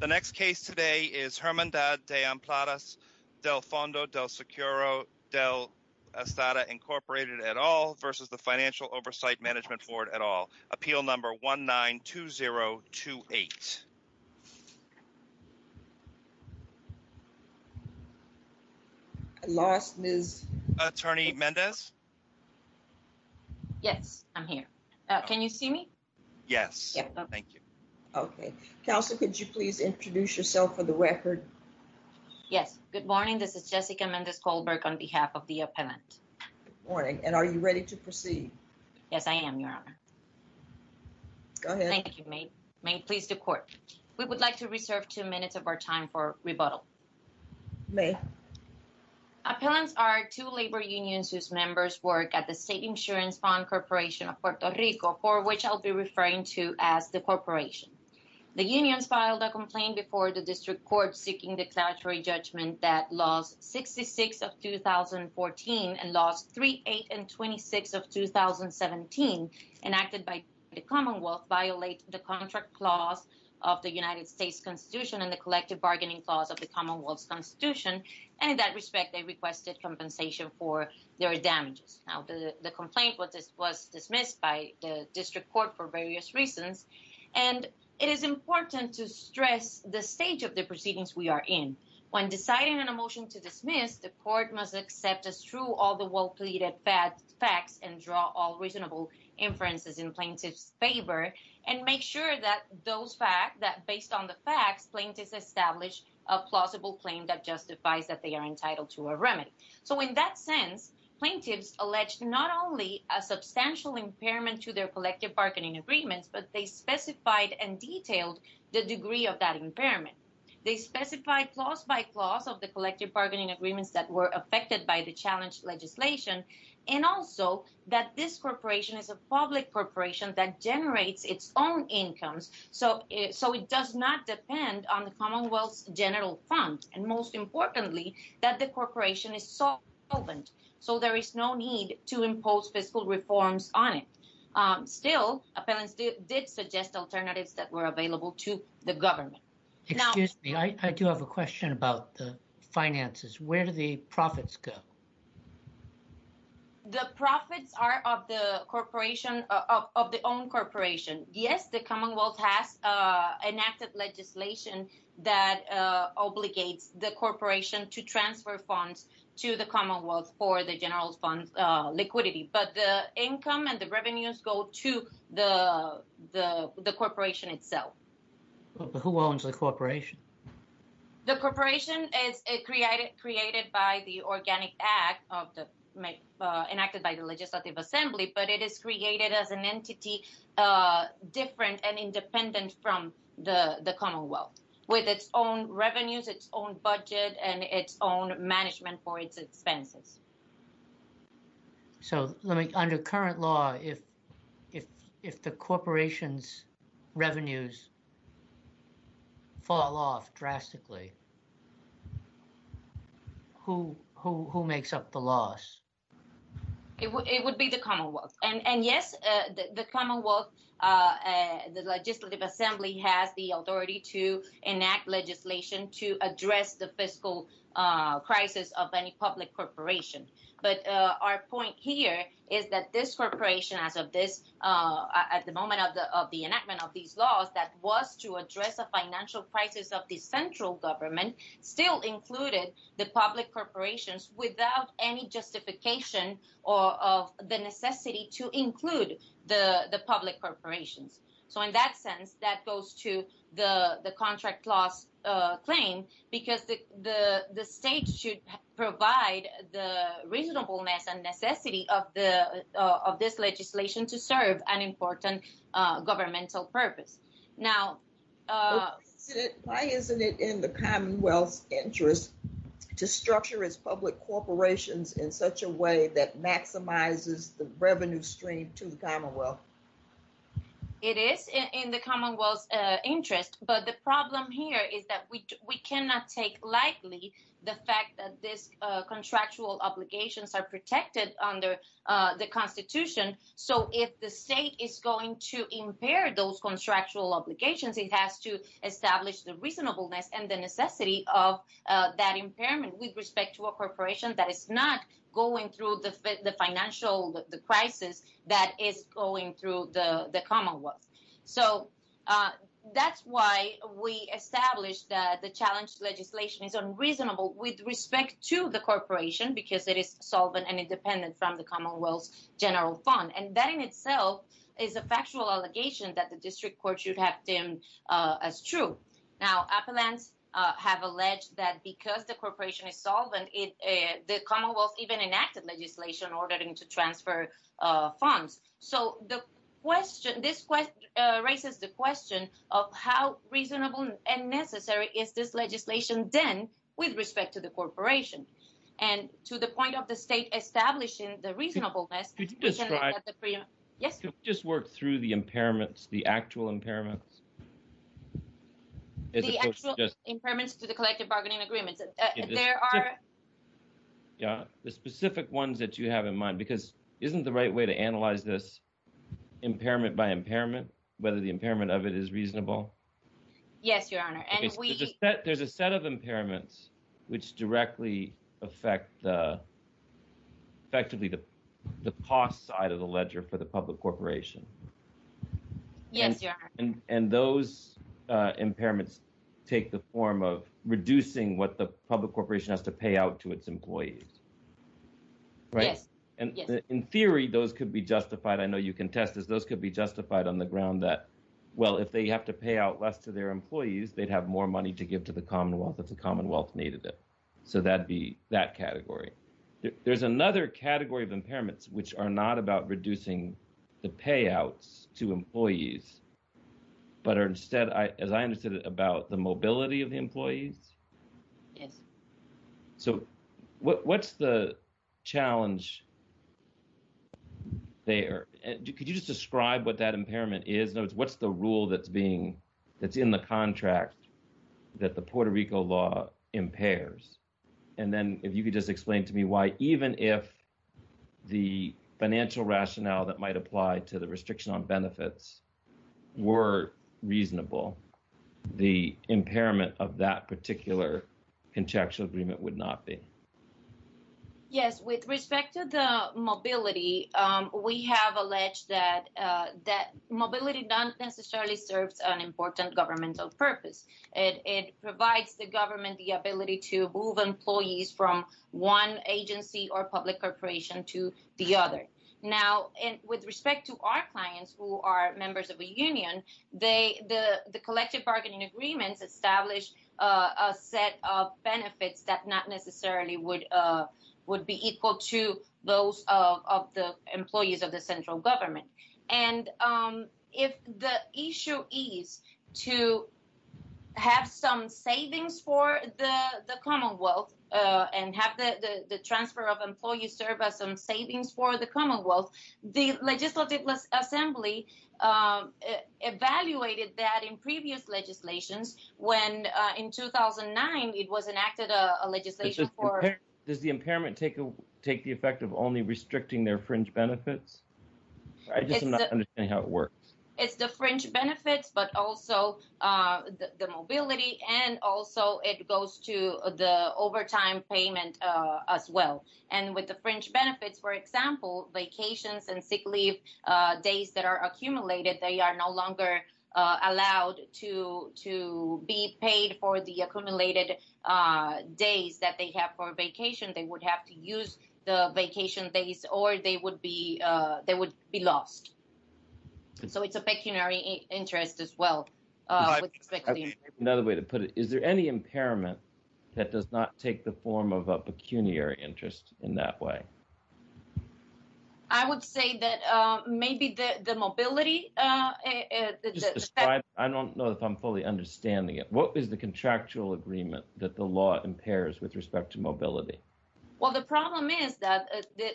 The next case today is Hermandad de Empleados del Fondo del Seguro del Estada Incorporated et al. versus the Financial Oversight Management Board et al. Appeal number 19-2028. I lost Ms. Attorney Mendez. Yes, I'm here. Can you see me? Yes, thank you. Okay, Counsel, could you please introduce yourself for the record? Yes, good morning. This is Jessica Mendez-Kohlberg on behalf of the appellant. Good morning, and are you ready to proceed? Yes, I am, Your Honor. Go ahead. Thank you, May. May it please the Court. We would like to reserve two minutes of our time for rebuttal. May. Appellants are two labor unions whose members work at the State Insurance Fund Corporation of Puerto Rico, for which I'll be speaking. The unions filed a complaint before the District Court seeking declaratory judgment that Laws 66 of 2014 and Laws 3, 8, and 26 of 2017, enacted by the Commonwealth, violate the contract clause of the United States Constitution and the collective bargaining clause of the Commonwealth's Constitution. And in that respect, they requested compensation for their damages. Now, the complaint was dismissed by the District Court for various reasons, and it is important to stress the stage of the proceedings we are in. When deciding on a motion to dismiss, the Court must accept as true all the well-pleaded facts and draw all reasonable inferences in plaintiff's favor and make sure that based on the facts, plaintiffs establish a plausible claim that justifies that they are entitled to a remedy. So in that sense, plaintiffs alleged not only a substantial impairment to their collective bargaining agreements, but they specified and detailed the degree of that impairment. They specified clause by clause of the collective bargaining agreements that were affected by the challenged legislation, and also that this corporation is a public corporation that generates its own incomes, so it does not depend on the Commonwealth's general fund. And most importantly, that the corporation is solvent, so there is no need to impose fiscal reforms on it. Still, appellants did suggest alternatives that were available to the government. Excuse me, I do have a question about the finances. Where do the profits go? The profits are of the corporation, of the own corporation. Yes, the Commonwealth has enacted legislation that obligates the corporation to transfer funds to the Commonwealth for the general fund liquidity, but the income and the revenues go to the corporation itself. Who owns the corporation? The corporation is created by the Organic Act, enacted by the Legislative Assembly, but it is created as an entity different and independent from the Commonwealth, with its own revenues, its own budget, and its own management for its expenses. So, under current law, if the corporation's revenues fall off drastically, who makes up the loss? It would be the Commonwealth. And yes, the Commonwealth, the Legislative Assembly has the authority to enact legislation to address the fiscal crisis of any public corporation. But our point here is that this corporation, as of this, at the moment of the enactment of these laws, that was to address a financial crisis of the central government, still included the public corporations, without any justification of the necessity to include the public corporations. So, in that sense, that goes to the contract loss claim, because the state should provide the reasonableness and necessity of this legislation to serve an important governmental purpose. Now... Why isn't it in the Commonwealth's interest to structure its public corporations in such a way that maximizes the revenue stream to the Commonwealth? It is in the Commonwealth's interest, but the problem here is that we cannot take lightly the fact that these contractual obligations are protected under the Constitution. So, if the state is going to impair those contractual obligations, it has to establish the reasonableness and the necessity of that impairment with respect to a corporation that is not going through the financial crisis that is going through the Commonwealth. So, that's why we established that the challenge legislation is unreasonable with respect to the fund, and that in itself is a factual allegation that the district courts should have deemed as true. Now, appellants have alleged that because the corporation is solvent, the Commonwealth even enacted legislation ordering to transfer funds. So, this raises the question of how reasonable and necessary is this legislation then with respect to the corporation, and to the point of the state establishing the reasonableness... Could you describe... Yes? Could we just work through the impairments, the actual impairments? The actual impairments to the collective bargaining agreements. There are... Yeah, the specific ones that you have in mind, because isn't the right way to analyze this impairment by impairment, whether the impairment of it is reasonable? Yes, Your Honor, and we... There's a set of impairments which directly affect the, effectively, the cost side of the ledger for the public corporation. Yes, Your Honor. And those impairments take the form of reducing what the public corporation has to pay out to its employees, right? Yes, yes. And in theory, those could be justified. I know you can test this. Those could be justified on the ground that, well, if they have to pay out less to their employees, they'd have more money to give to the Commonwealth if the Commonwealth needed it. So, that'd be that category. There's another category of impairments which are not about reducing the payouts to employees, but are instead, as I understood it, about the mobility of the employees. Yes. So, what's the challenge there? Could you just describe what that impairment is? What's the rule that's being... that's in the contract that the Puerto Rico law impairs? And then if you could just explain to me why, even if the financial rationale that might apply to the contractual agreement would not be. Yes. With respect to the mobility, we have alleged that mobility doesn't necessarily serve an important governmental purpose. It provides the government the ability to move employees from one agency or public corporation to the other. Now, with respect to our clients who are members of a union, the collective bargaining agreements established a set of benefits that not necessarily would be equal to those of the employees of the central government. And if the issue is to have some savings for the Commonwealth and have the transfer of employee service and savings for the Commonwealth, the Legislative Assembly evaluated that in previous legislations. When in 2009, it was enacted a legislation for... Does the impairment take the effect of only restricting their fringe benefits? I just am not understanding how it works. It's the fringe benefits, but also the mobility, and also it goes to the overtime payment as well. And with the fringe benefits, for example, vacations and sick leave days that are accumulated, they are no longer allowed to be paid for the accumulated days that they have for vacation. They would have to use the vacation days or they would be lost. So it's a pecuniary interest as well. Another way to put it, is there any impairment that does not take the form of a pecuniary interest in that way? I would say that maybe the mobility... I don't know if I'm fully understanding it. What is the contractual agreement that the law impairs with respect to mobility? Well, the problem is that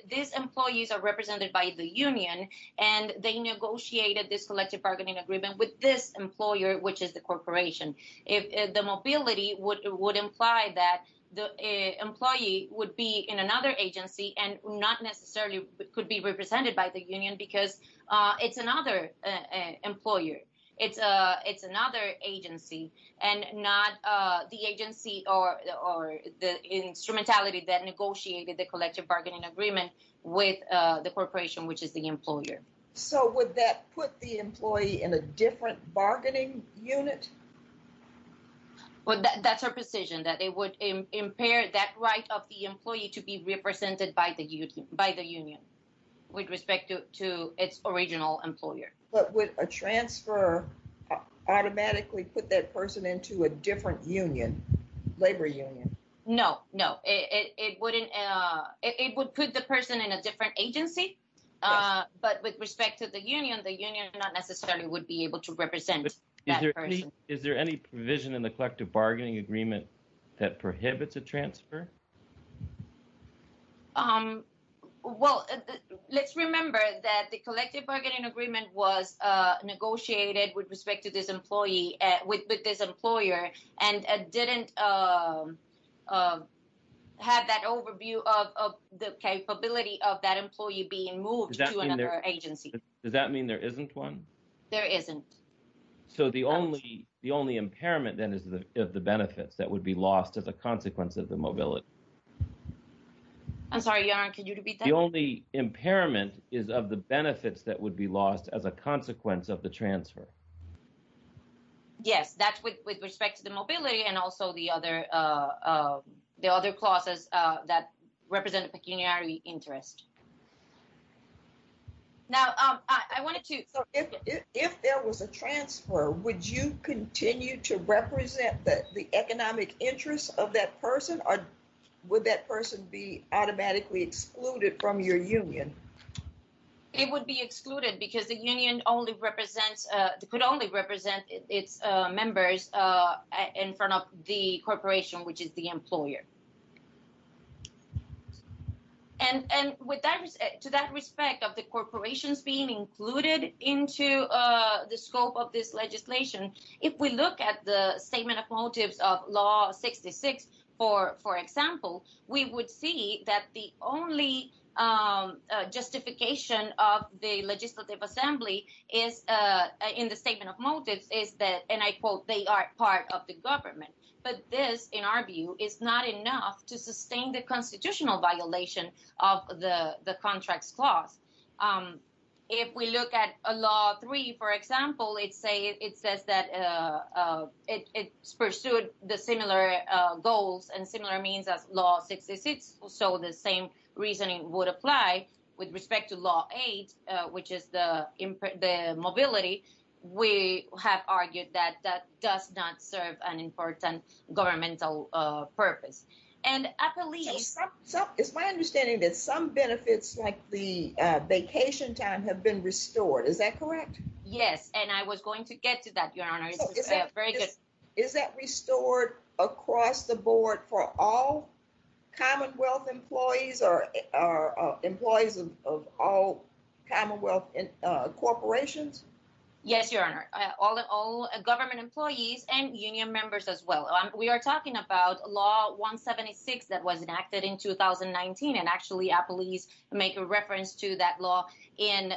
these employees are represented by the union and they negotiated this collective bargaining agreement with this employer, which is the corporation. If the mobility would imply that the employee would be in another agency and not necessarily could be represented by the union because it's another employer, it's another agency and not the agency or the instrumentality that negotiated the collective bargaining agreement with the corporation, which is the employer. So would that put the employee in a different bargaining unit? Well, that's our position, that it would impair that right of the employee to be represented by the union with respect to its original employer. But would a transfer automatically put that person into a different union, labor union? No, no. It would put the person in a different agency, but with respect to the union, the union not necessarily would be able to represent that person. Is there any provision in the collective bargaining agreement that prohibits a transfer? Well, let's remember that the collective bargaining agreement was negotiated with respect to this employee, with this employer, and didn't have that overview of the capability of that employee being moved to another agency. Does that mean there isn't one? There isn't. So the only impairment then is of the benefits that would be lost as a consequence of the mobility. I'm sorry, Yaron, could you repeat that? The only impairment is of the benefits that would be lost as a consequence of the transfer. Yes, that's with respect to the mobility and also the other clauses that represent pecuniary interest. Now, I wanted to... So if there was a transfer, would you continue to represent the economic interests of that person, or would that person be automatically excluded from your union? It would be excluded because the union could only represent its members in front of the corporation, which is the employer. And to that respect of the corporations being included into the scope of this legislation, if we look at the Statement of Motives of Law 66, for example, we would see that the only justification of the Legislative Assembly in the Statement of Motives is that, and I quote, they are part of the government. But this, in our view, is not enough to sustain the constitutional violation of the Contracts Clause. If we look at Law 3, for example, it says that it's pursued the similar goals and similar means as Law 66, so the same reasoning would apply with respect to Law 8, which is the mobility. We have argued that that does not serve an important governmental purpose. And I believe... It's my understanding that some benefits like the vacation time have been restored. Is that correct? Yes, and I was going to get to that, Your Honor. Is that restored across the board for all Commonwealth employees or employees of all Commonwealth corporations? Yes, Your Honor. All government employees and union members as well. We are talking about Law 176 that was enacted in 2019, and actually, appellees make a reference to that law in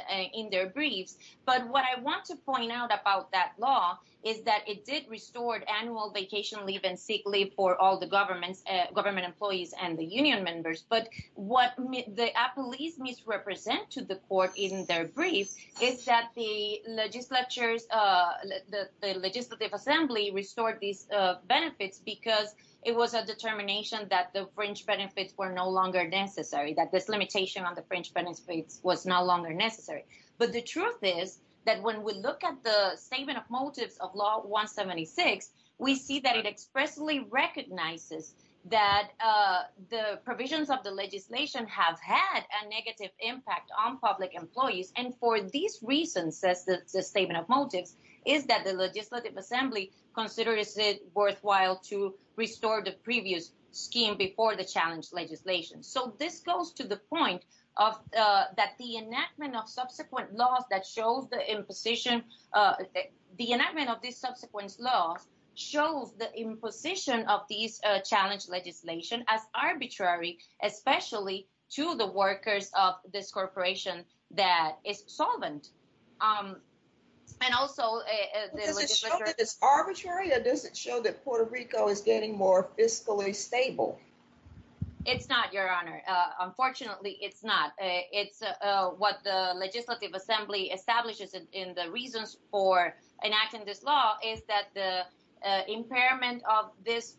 their briefs. But what I want to point out about that law is that it did restore annual vacation leave and sick leave for all the government employees and the union members. But what the appellees misrepresent to the court in their briefs is that the legislative assembly restored these benefits because it was a determination that the fringe benefits were no longer necessary, that this limitation on the fringe benefits was no longer necessary. But the truth is that when we look at the statement of motives of Law 176, we see that it expressly recognizes that the provisions of the legislation have had a negative impact on public employees. And for these reasons, says the statement of motives, is that the legislative assembly considers it worthwhile to restore the previous scheme before the challenge legislation. So this goes to the point that the enactment of subsequent laws that shows the imposition, the enactment of these subsequent laws shows the imposition of these legislation as arbitrary, especially to the workers of this corporation that is solvent. And also- Does it show that it's arbitrary or does it show that Puerto Rico is getting more fiscally stable? It's not, Your Honor. Unfortunately, it's not. It's what the legislative assembly establishes in the reasons for enacting this law is that the impairment of this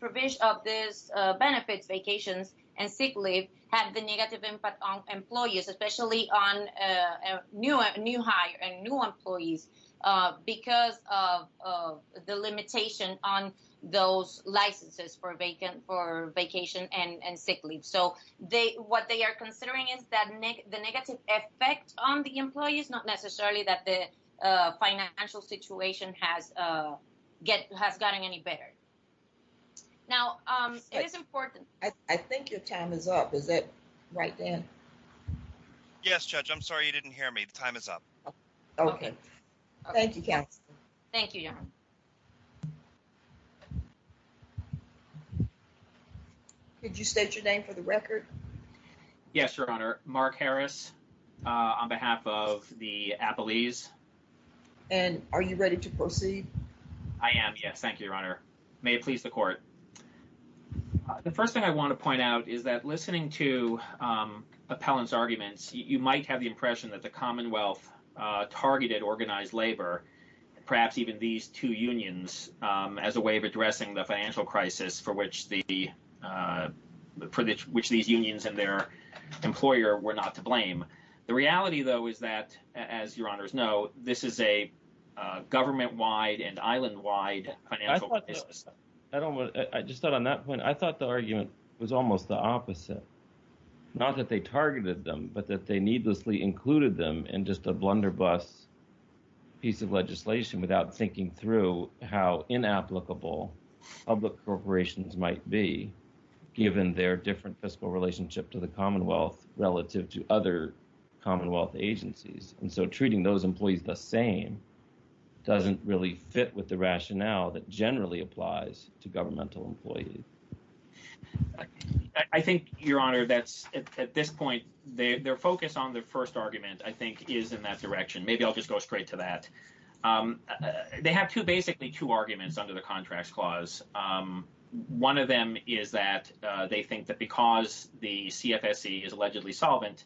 benefits, vacations, and sick leave had the negative impact on employees, especially on new hire and new employees, because of the limitation on those licenses for vacation and sick leave. So what they are effect on the employees, not necessarily that the financial situation has gotten any better. Now, it is important- I think your time is up. Is that right, Dan? Yes, Judge. I'm sorry you didn't hear me. The time is up. Okay. Thank you, Counselor. Thank you, Your Honor. Could you state your name for the record? Yes, Your Honor. Mark Harris on behalf of the Appellees. And are you ready to proceed? I am, yes. Thank you, Your Honor. May it please the Court. The first thing I want to point out is that listening to Appellant's arguments, you might have the impression that the Commonwealth targeted organized labor, perhaps even these two unions, as a way of addressing the financial crisis for which these unions and their employer were not to blame. The reality, though, is that, as Your Honors know, this is a government-wide and island-wide financial crisis. I just thought on that point, I thought the argument was almost the opposite. Not that they targeted them, but that they needlessly included them in just a blunderbuss piece of legislation without thinking through how inapplicable public corporations might be, given their different fiscal relationship to the Commonwealth relative to other Commonwealth agencies. And so treating those employees the same doesn't really fit with the rationale that generally applies to governmental employees. I think, Your Honor, that's at this point, their focus on the first argument, I think, is in that direction. Maybe I'll just go straight to that. They have basically two arguments under the Contracts Clause. One of them is that they think that because the CFSC is allegedly solvent,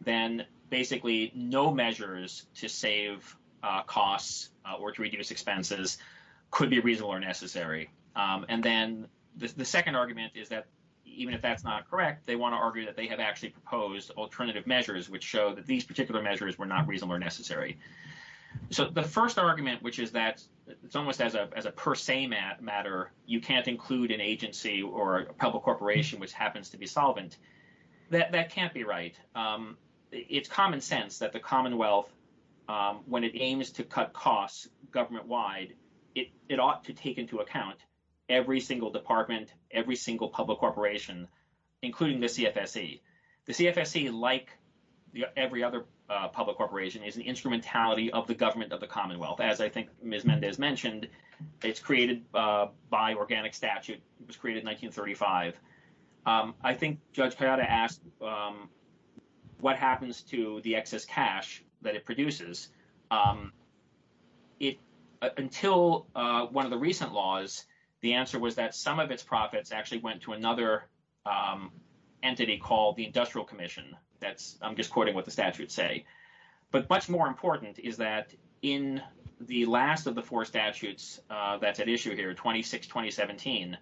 then basically no measures to save costs or to reduce expenses could be reasonable or necessary. And then the second argument is that even if that's not correct, they want to argue that have actually proposed alternative measures which show that these particular measures were not reasonable or necessary. So the first argument, which is that it's almost as a per se matter, you can't include an agency or a public corporation which happens to be solvent, that can't be right. It's common sense that the Commonwealth, when it aims to cut costs government-wide, it ought to take into account every single department, every single public corporation, including the CFSC. The CFSC, like every other public corporation, is an instrumentality of the government of the Commonwealth. As I think Ms. Mendez mentioned, it's created by organic statute. It was created in 1935. I think Judge Payada asked what happens to the excess cash that it produces. Until one of the recent laws, the answer was that some of its profits actually went to another entity called the Industrial Commission. That's, I'm just quoting what the statutes say. But much more important is that in the last of the four statutes that's at issue here, 26-2017,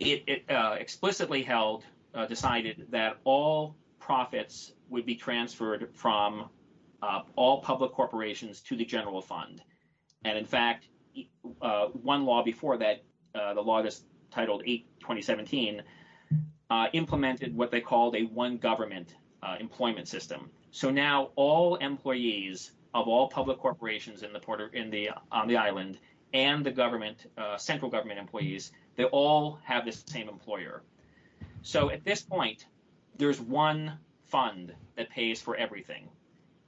it explicitly held, decided that all profits would be transferred from all public corporations to the general fund. In fact, one law before that, the law that's titled 8-2017, implemented what they called a one-government employment system. So now all employees of all public corporations on the island and the central government employees, they all have the same employer. So at this point, there's one fund that pays for everything.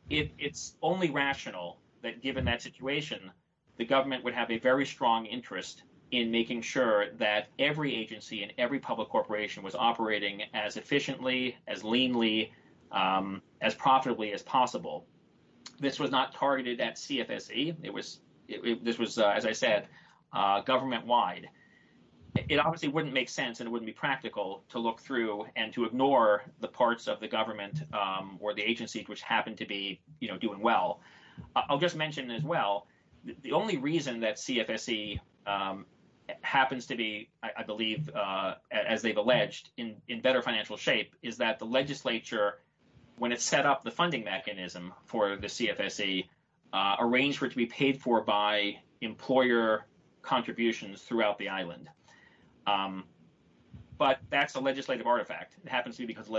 It's only rational that given that situation, the government would have a very strong interest in making sure that every agency and every public corporation was operating as efficiently, as leanly, as profitably as possible. This was not targeted at CFSE. This was, as I said, government-wide. It obviously wouldn't make sense and it wouldn't be practical to look through and to ignore the parts of the government or the agencies which happen to be doing well. I'll just mention as well, the only reason that CFSE happens to be, I believe, as they've alleged, in better financial shape is that the legislature, when it set up the funding mechanism for the CFSE, arranged for it to be paid for by employer contributions throughout the island. But that's a legislative artifact. It happens to be because the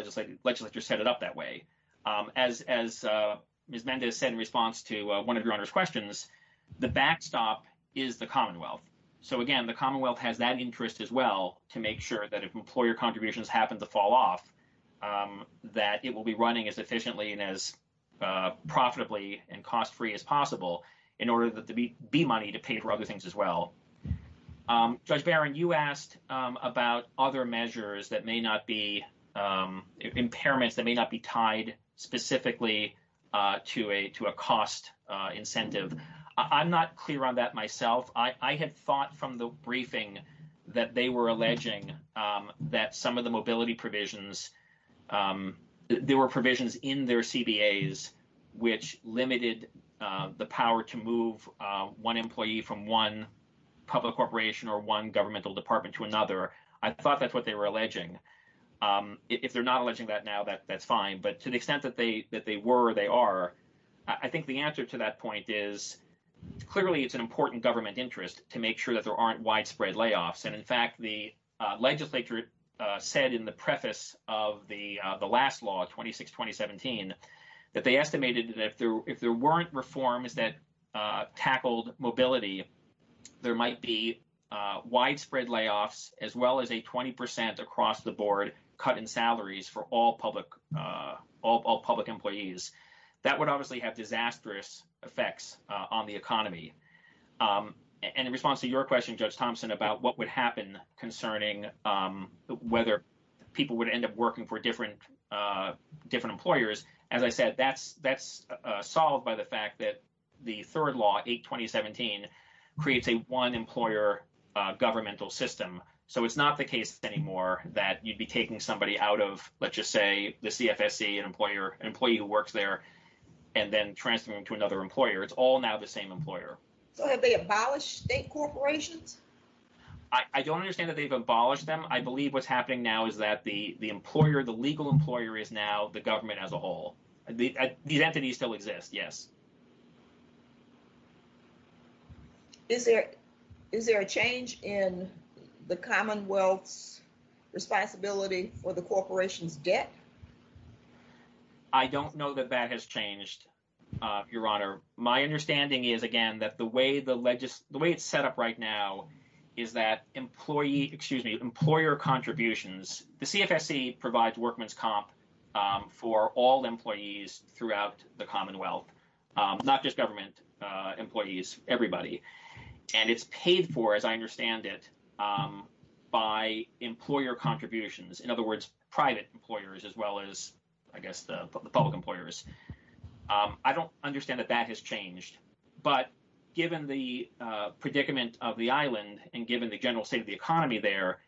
legislature set it up that way. As Ms. Mendez said in response to one of your Honor's questions, the backstop is the Commonwealth. So again, the Commonwealth has that interest as well to make sure that if employer contributions happen to fall off, that it will be running as efficiently and as profitably and cost-free as possible in order to be money to pay for other things as well. Judge Barron, you asked about other measures that may not be, impairments that may not be tied specifically to a cost incentive. I'm not clear on that myself. I had thought from the briefing that they were alleging that some of the mobility provisions, there were provisions in their CBAs which limited the power to move one employee from one public corporation or one governmental department to another. I thought that's what they were alleging. If they're not alleging that now, that's fine. But to the extent that they were or they are, I think the answer to that point is, clearly, it's an important government interest to make sure that there aren't widespread layoffs. And in fact, the legislature said in the preface of the last law, 26-2017, that they estimated that if there weren't reforms that tackled mobility, there might be widespread layoffs, as well as a 20% across the board cut in salaries for all public employees. That would obviously have disastrous effects on the economy. And in response to your question, Judge Thompson, about what would happen concerning whether people would end up working for different employers, as I said, that's solved by the fact that the third law, 8-2017, creates a one-employer governmental system. So it's not the case anymore that you'd be taking somebody out of, let's just say, the CFSC, an employee who works there, and then transferring them to another employer. It's all now the same employer. So have they abolished state corporations? I don't understand that they've abolished them. I believe what's happening now is that the legal employer is now the government as a whole. These entities still exist, yes. Is there a change in the Commonwealth's responsibility for the corporation's debt? I don't know that that has changed, Your Honor. My understanding is, again, that the way it's set up right now is that employer contributions, the CFSC provides workman's comp for all employees throughout the Commonwealth, not just government employees, everybody. And it's paid for, as I understand it, by employer contributions. In other words, private employers as well as, I guess, the public employers. I don't understand that that has changed. But given the predicament of the island, and given the general state of the economy there,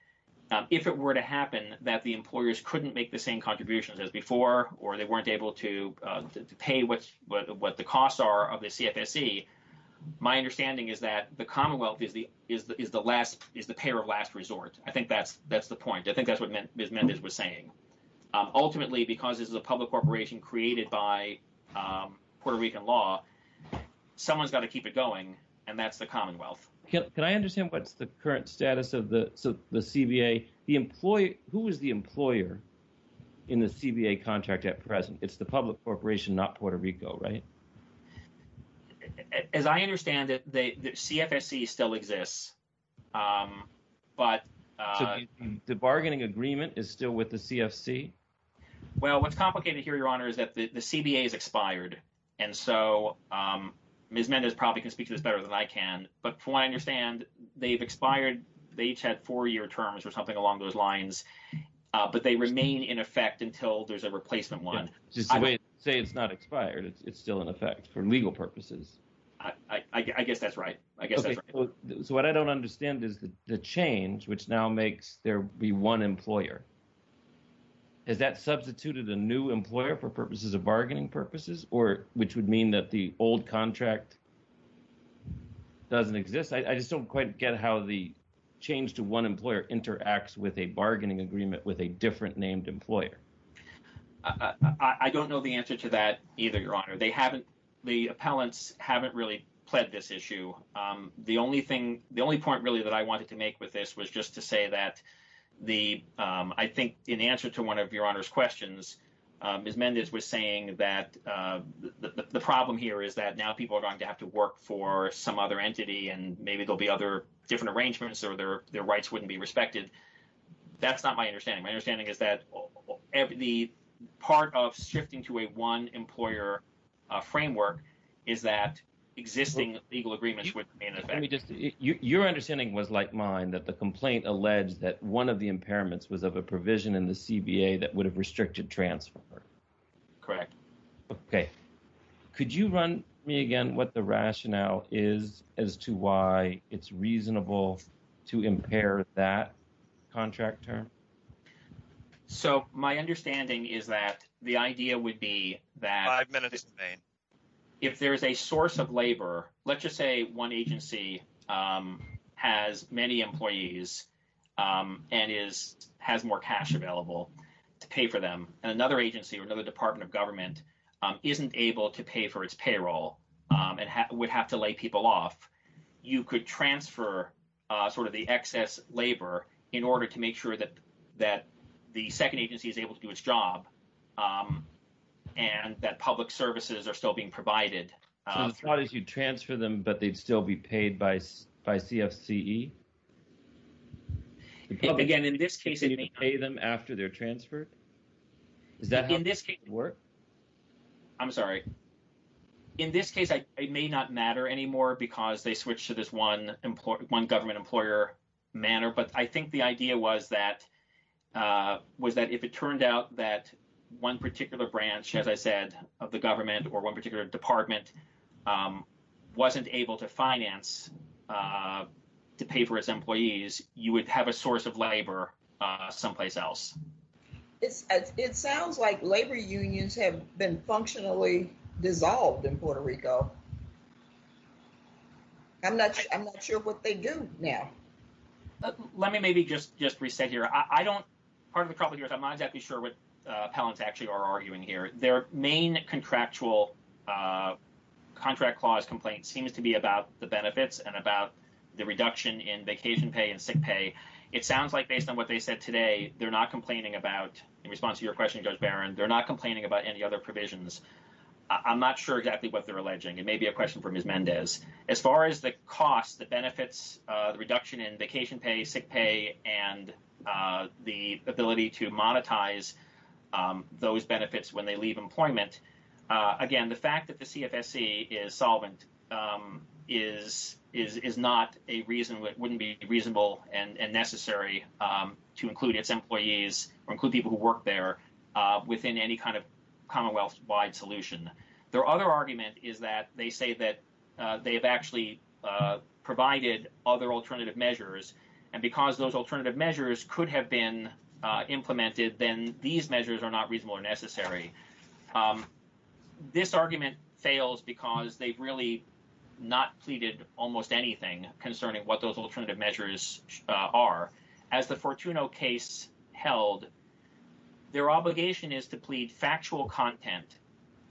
if it were to happen that the employers couldn't make the same contributions as before, or they weren't able to pay what the costs are of the CFSC, my understanding is that the Commonwealth is the payer of last resort. I think that's the point. I think that's what Ms. Mendez was saying. Ultimately, because this is a public corporation created by Puerto Rican law, someone's got to keep it going, and that's the Commonwealth. Can I understand what's the current status of the CBA? Who is the employer in the CBA contract at present? It's the public corporation, not Puerto Rico, right? As I understand it, the CFSC still exists. The bargaining agreement is still with the CFC? Well, what's complicated here, Your Honor, is that the CBA is expired. And so Ms. Mendez probably can speak to this better than I can. But from what I understand, they've expired. They each had four-year terms or something along those lines. But they remain in effect until there's a replacement one. Just the way they say it's not expired, it's still in effect for legal purposes. I guess that's right. I guess that's right. So what I don't understand is the change, which now makes there be one employer. Has that substituted a new employer for purposes of bargaining purposes, or which would mean that the old contract doesn't exist? I just don't quite get how the change to one employer interacts with a bargaining agreement with a different named employer. I don't know the answer to that either, Your Honor. The appellants haven't really pled this issue. The only point, really, that I wanted to make with this was just to say that I think in answer to one of Your Honor's questions, Ms. Mendez was saying that the problem here is that now people are going to have to work for some other entity and maybe there'll be other different arrangements or their rights wouldn't be respected. That's not my understanding. My understanding is that the part of shifting to a one employer framework is that existing legal agreements would be in effect. Your understanding was like mine, that the complaint alleged that one of the impairments was of a provision in the CBA that would have restricted transfer. Correct. Okay. Could you run me again what the rationale is as to why it's reasonable to impair that contract term? So my understanding is that the idea would be that if there is a source of labor, let's just say one agency has many employees and has more cash available to pay for them, and another agency or another Department of Government isn't able to pay for its payroll and would have to lay people off, you could transfer sort of the excess labor in order to make sure that the second agency is able to do its job and that public services are still being provided. So it's not as you transfer them, but they'd still be paid by CFCE? Again, in this case, it may not. Can you pay them after they're transferred? Is that how it would work? I'm sorry. In this case, it may not matter anymore because they switch to this one government employer manner. But I think the idea was that if it turned out that one particular branch, as I said, of the government or one particular department wasn't able to finance to pay for its employees, you would have a source of labor someplace else. It sounds like labor unions have been functionally dissolved in Puerto Rico. I'm not sure what they do now. Let me maybe just reset here. Part of the problem here is I'm not exactly sure what appellants actually are arguing here. Their main contractual contract clause complaint seems to be about the benefits and about the reduction in vacation pay and sick pay. It sounds like based on what they said today, they're not complaining about, in response to your question, Judge Barron, they're not complaining about any other provisions. I'm not sure exactly what they're alleging. It may be a question for Ms. Mendez. As far as the cost, the benefits, the reduction in vacation pay, sick pay, and the ability to monetize those benefits when they leave employment, again, the fact that the CFSC is solvent is not a reason—wouldn't be reasonable and necessary to include its employees or include people who work there within any kind of commonwealth-wide solution. Their other argument is that they say that they have actually provided other alternative measures, and because those alternative measures could have been implemented, then these measures are not reasonable or necessary. This argument fails because they've really not pleaded almost anything concerning what those alternative measures are. As the Fortuno case held, their obligation is to plead factual content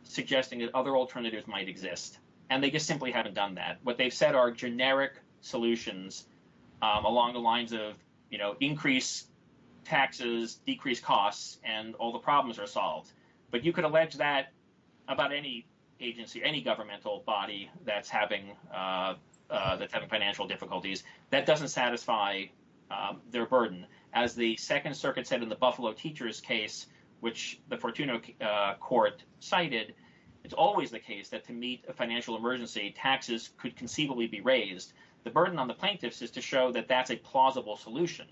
suggesting that other alternatives might exist, and they just simply haven't done that. What they've said are generic solutions along the lines of, you know, increase taxes, decrease costs, and all the problems are solved. But you could allege that about any agency, any governmental body that's having financial difficulties, that doesn't satisfy their burden. As the Second Circuit said in the Buffalo Teachers case, which the Fortuno court cited, it's always the case that to meet a financial emergency, taxes could conceivably be raised. The burden on the plaintiffs is to show that that's a plausible solution,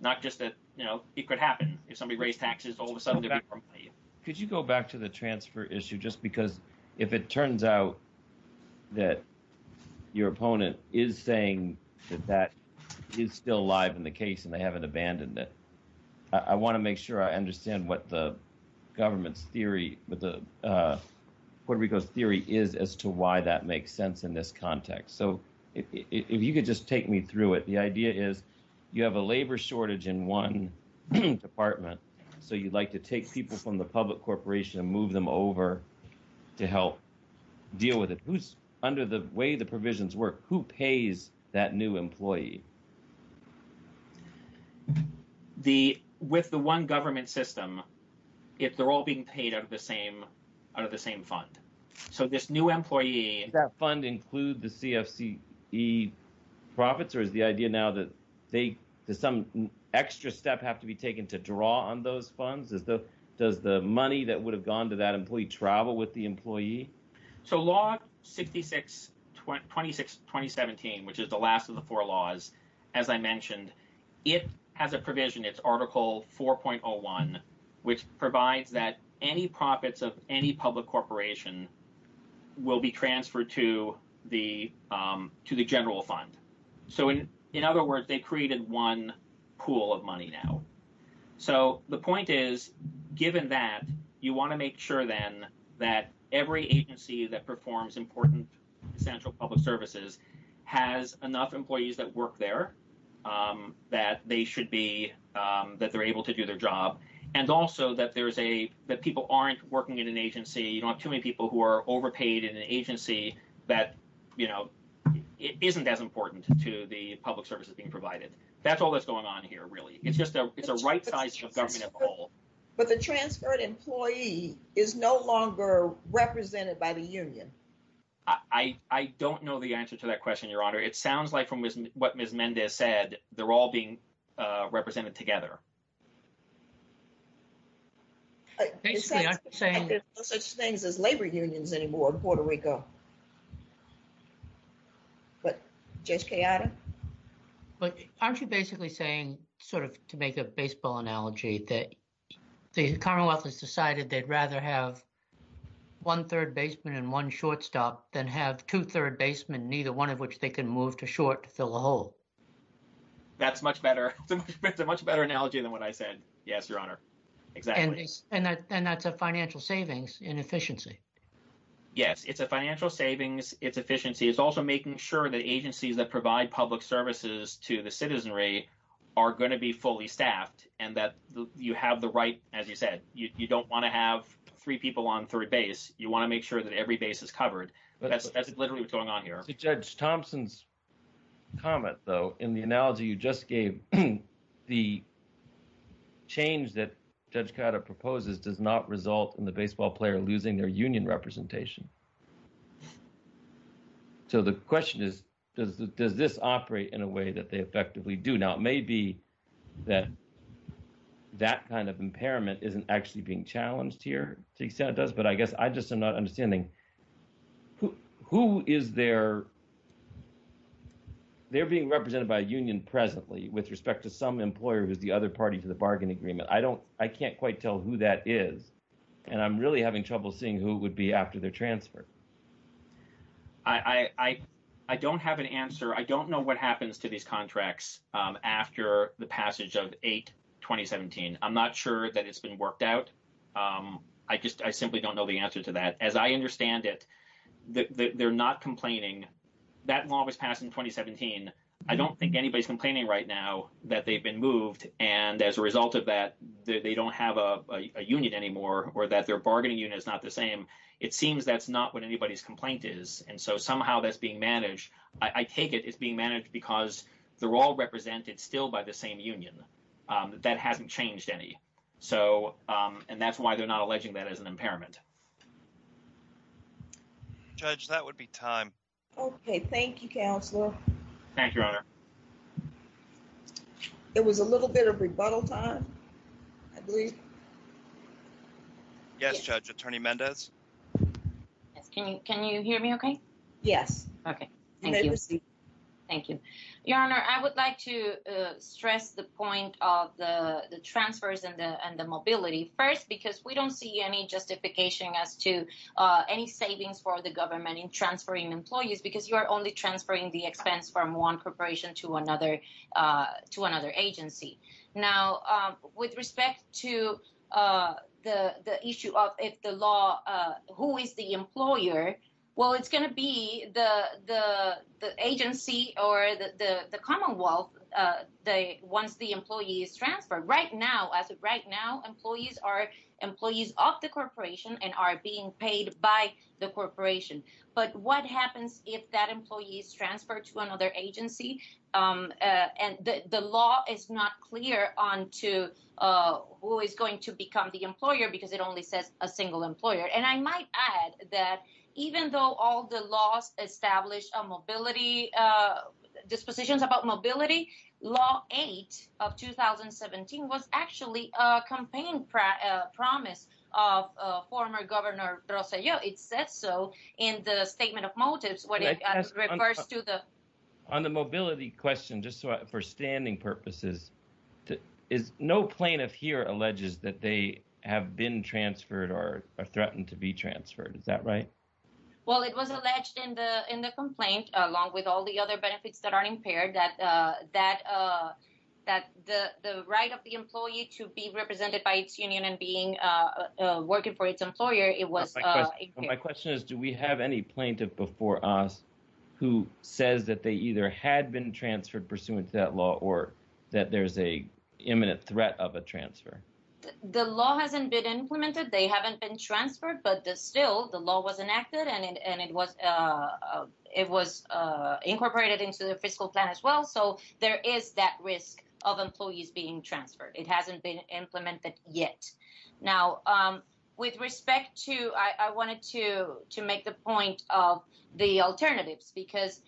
not just that, you know, it could happen. If somebody raised taxes, all of a sudden there'd be more money. Could you go back to the transfer issue, just because if it turns out that your opponent is saying that that is still alive in the case and they haven't abandoned it? I want to make sure I understand what the government's theory, what Puerto Rico's theory is as to why that makes sense in this context. So if you could just take me through it. The idea is you have a labor shortage in one department, so you'd like to take people from the public corporation and move them over to help deal with it. Under the way the provisions work, who pays that new employee? With the one government system, they're all being paid out of the same fund. So this new employee— Does that fund include the CFCE profits, or is the idea now that they—does some extra step have to be taken to draw on those funds? Does the money that would have gone to that employee travel with the employee? So Law 66-26-2017, which is the last of the four laws, as I mentioned, it has a provision, it's Article 4.01, which provides that any profits of any public corporation will be transferred to the general fund. So in other words, they created one pool of money now. So the point is, given that, you want to make sure then that every agency that performs important essential public services has enough employees that work there, that they should be—that they're able to do their job, and also that there's a—that people aren't working in an agency—you don't have too many people who are overpaid in an agency that, you know, isn't as important to the public services being provided. That's all that's going on here, really. It's a right size of government of the whole. But the transferred employee is no longer represented by the union. I don't know the answer to that question, Your Honor. It sounds like from what Ms. Mendez said, they're all being represented together. Basically, I'm saying— There's no such things as labor unions anymore in Puerto Rico. But, Judge Coyote? But aren't you basically saying, sort of to make a baseball analogy, that the Commonwealth has decided they'd rather have one-third basement and one shortstop than have two-third basement, neither one of which they can move to short to fill a hole? That's much better. It's a much better analogy than what I said. Yes, Your Honor. Exactly. And that's a financial savings in efficiency. Yes, it's a financial savings. It's efficiency. It's also making sure that agencies that provide public services to the citizenry are going to be fully staffed and that you have the right, as you said, you don't want to have three people on three base. You want to make sure that every base is covered. That's literally what's going on here. Judge Thompson's comment, though, in the analogy you just gave, the change that Judge Coyote proposes does not result in the baseball player losing their union representation. So the question is, does this operate in a way that they effectively do? Now, it may be that that kind of impairment isn't actually being challenged here. To the extent it does, but I guess I just am not understanding, who is their—they're being represented by a union presently with respect to some employer who's the other party to the bargain agreement. I don't—I can't quite tell who that is, and I'm really having trouble seeing who would be after their transfer. I don't have an answer. I don't know what happens to these contracts after the passage of 8-2017. I'm not sure that it's been worked out. I just—I simply don't know the answer to that. As I understand it, they're not complaining. That law was passed in 2017. I don't think anybody's complaining right now that they've been moved, and as a result of that, they don't have a union anymore or that their bargaining unit is not the same. It seems that's not what anybody's complaint is, and so somehow that's being managed. I take it it's being managed because they're all represented still by the same union. That hasn't changed any, so—and that's why they're not alleging that as an impairment. Judge, that would be time. Okay. Thank you, Counselor. Thank you, Your Honor. There was a little bit of rebuttal time, I believe. Yes, Judge. Attorney Mendez? Yes, can you hear me okay? Yes. Okay. Thank you. Thank you. Your Honor, I would like to stress the point of the transfers and the mobility first because we don't see any justification as to any savings for the government in transferring employees because you are only transferring the expense from one corporation to another agency. Now, with respect to the issue of if the law—who is the employer? Well, it's going to be the agency or the Commonwealth once the employee is transferred. Right now, as of right now, employees are employees of the corporation and are being paid by the corporation. But what happens if that employee is transferred to another agency? And the law is not clear on who is going to become the employer because it only says a single employer. And I might add that even though all the laws establish a mobility—dispositions about mobility, Law 8 of 2017 was actually a campaign promise of former Governor Rosselló. It says so in the statement of motives when it refers to the— On the mobility question, just for standing purposes, no plaintiff here alleges that they have been transferred or are threatened to be transferred. Is that right? Well, it was alleged in the complaint, along with all the other benefits that aren't impaired, that the right of the employee to be represented by its union and being working for its employer, it was— My question is, do we have any plaintiff before us who says that they either had been transferred pursuant to that law or that there's an imminent threat of a transfer? The law hasn't been implemented. They haven't been transferred, but still, the law was enacted and it was incorporated into the fiscal plan as well. So there is that risk of employees being transferred. It hasn't been implemented yet. Now, with respect to—I wanted to make the point of the alternatives, because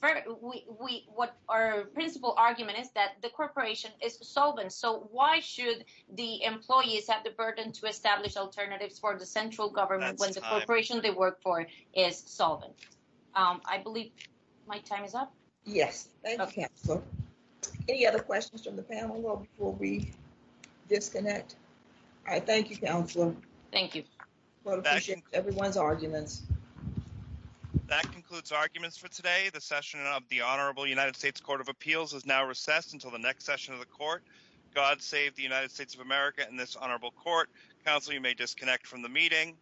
what our principal argument is that the corporation is solvent. So why should the employees have the burden to establish alternatives for the central government when the corporation they work for is solvent? I believe my time is up. Yes. Any other questions from the panel before we disconnect? All right. Thank you, Counselor. Thank you. I appreciate everyone's arguments. That concludes arguments for today. The session of the Honorable United States Court of Appeals is now recessed until the next session of the court. God save the United States of America and this honorable court. Counselor, you may disconnect from the meeting.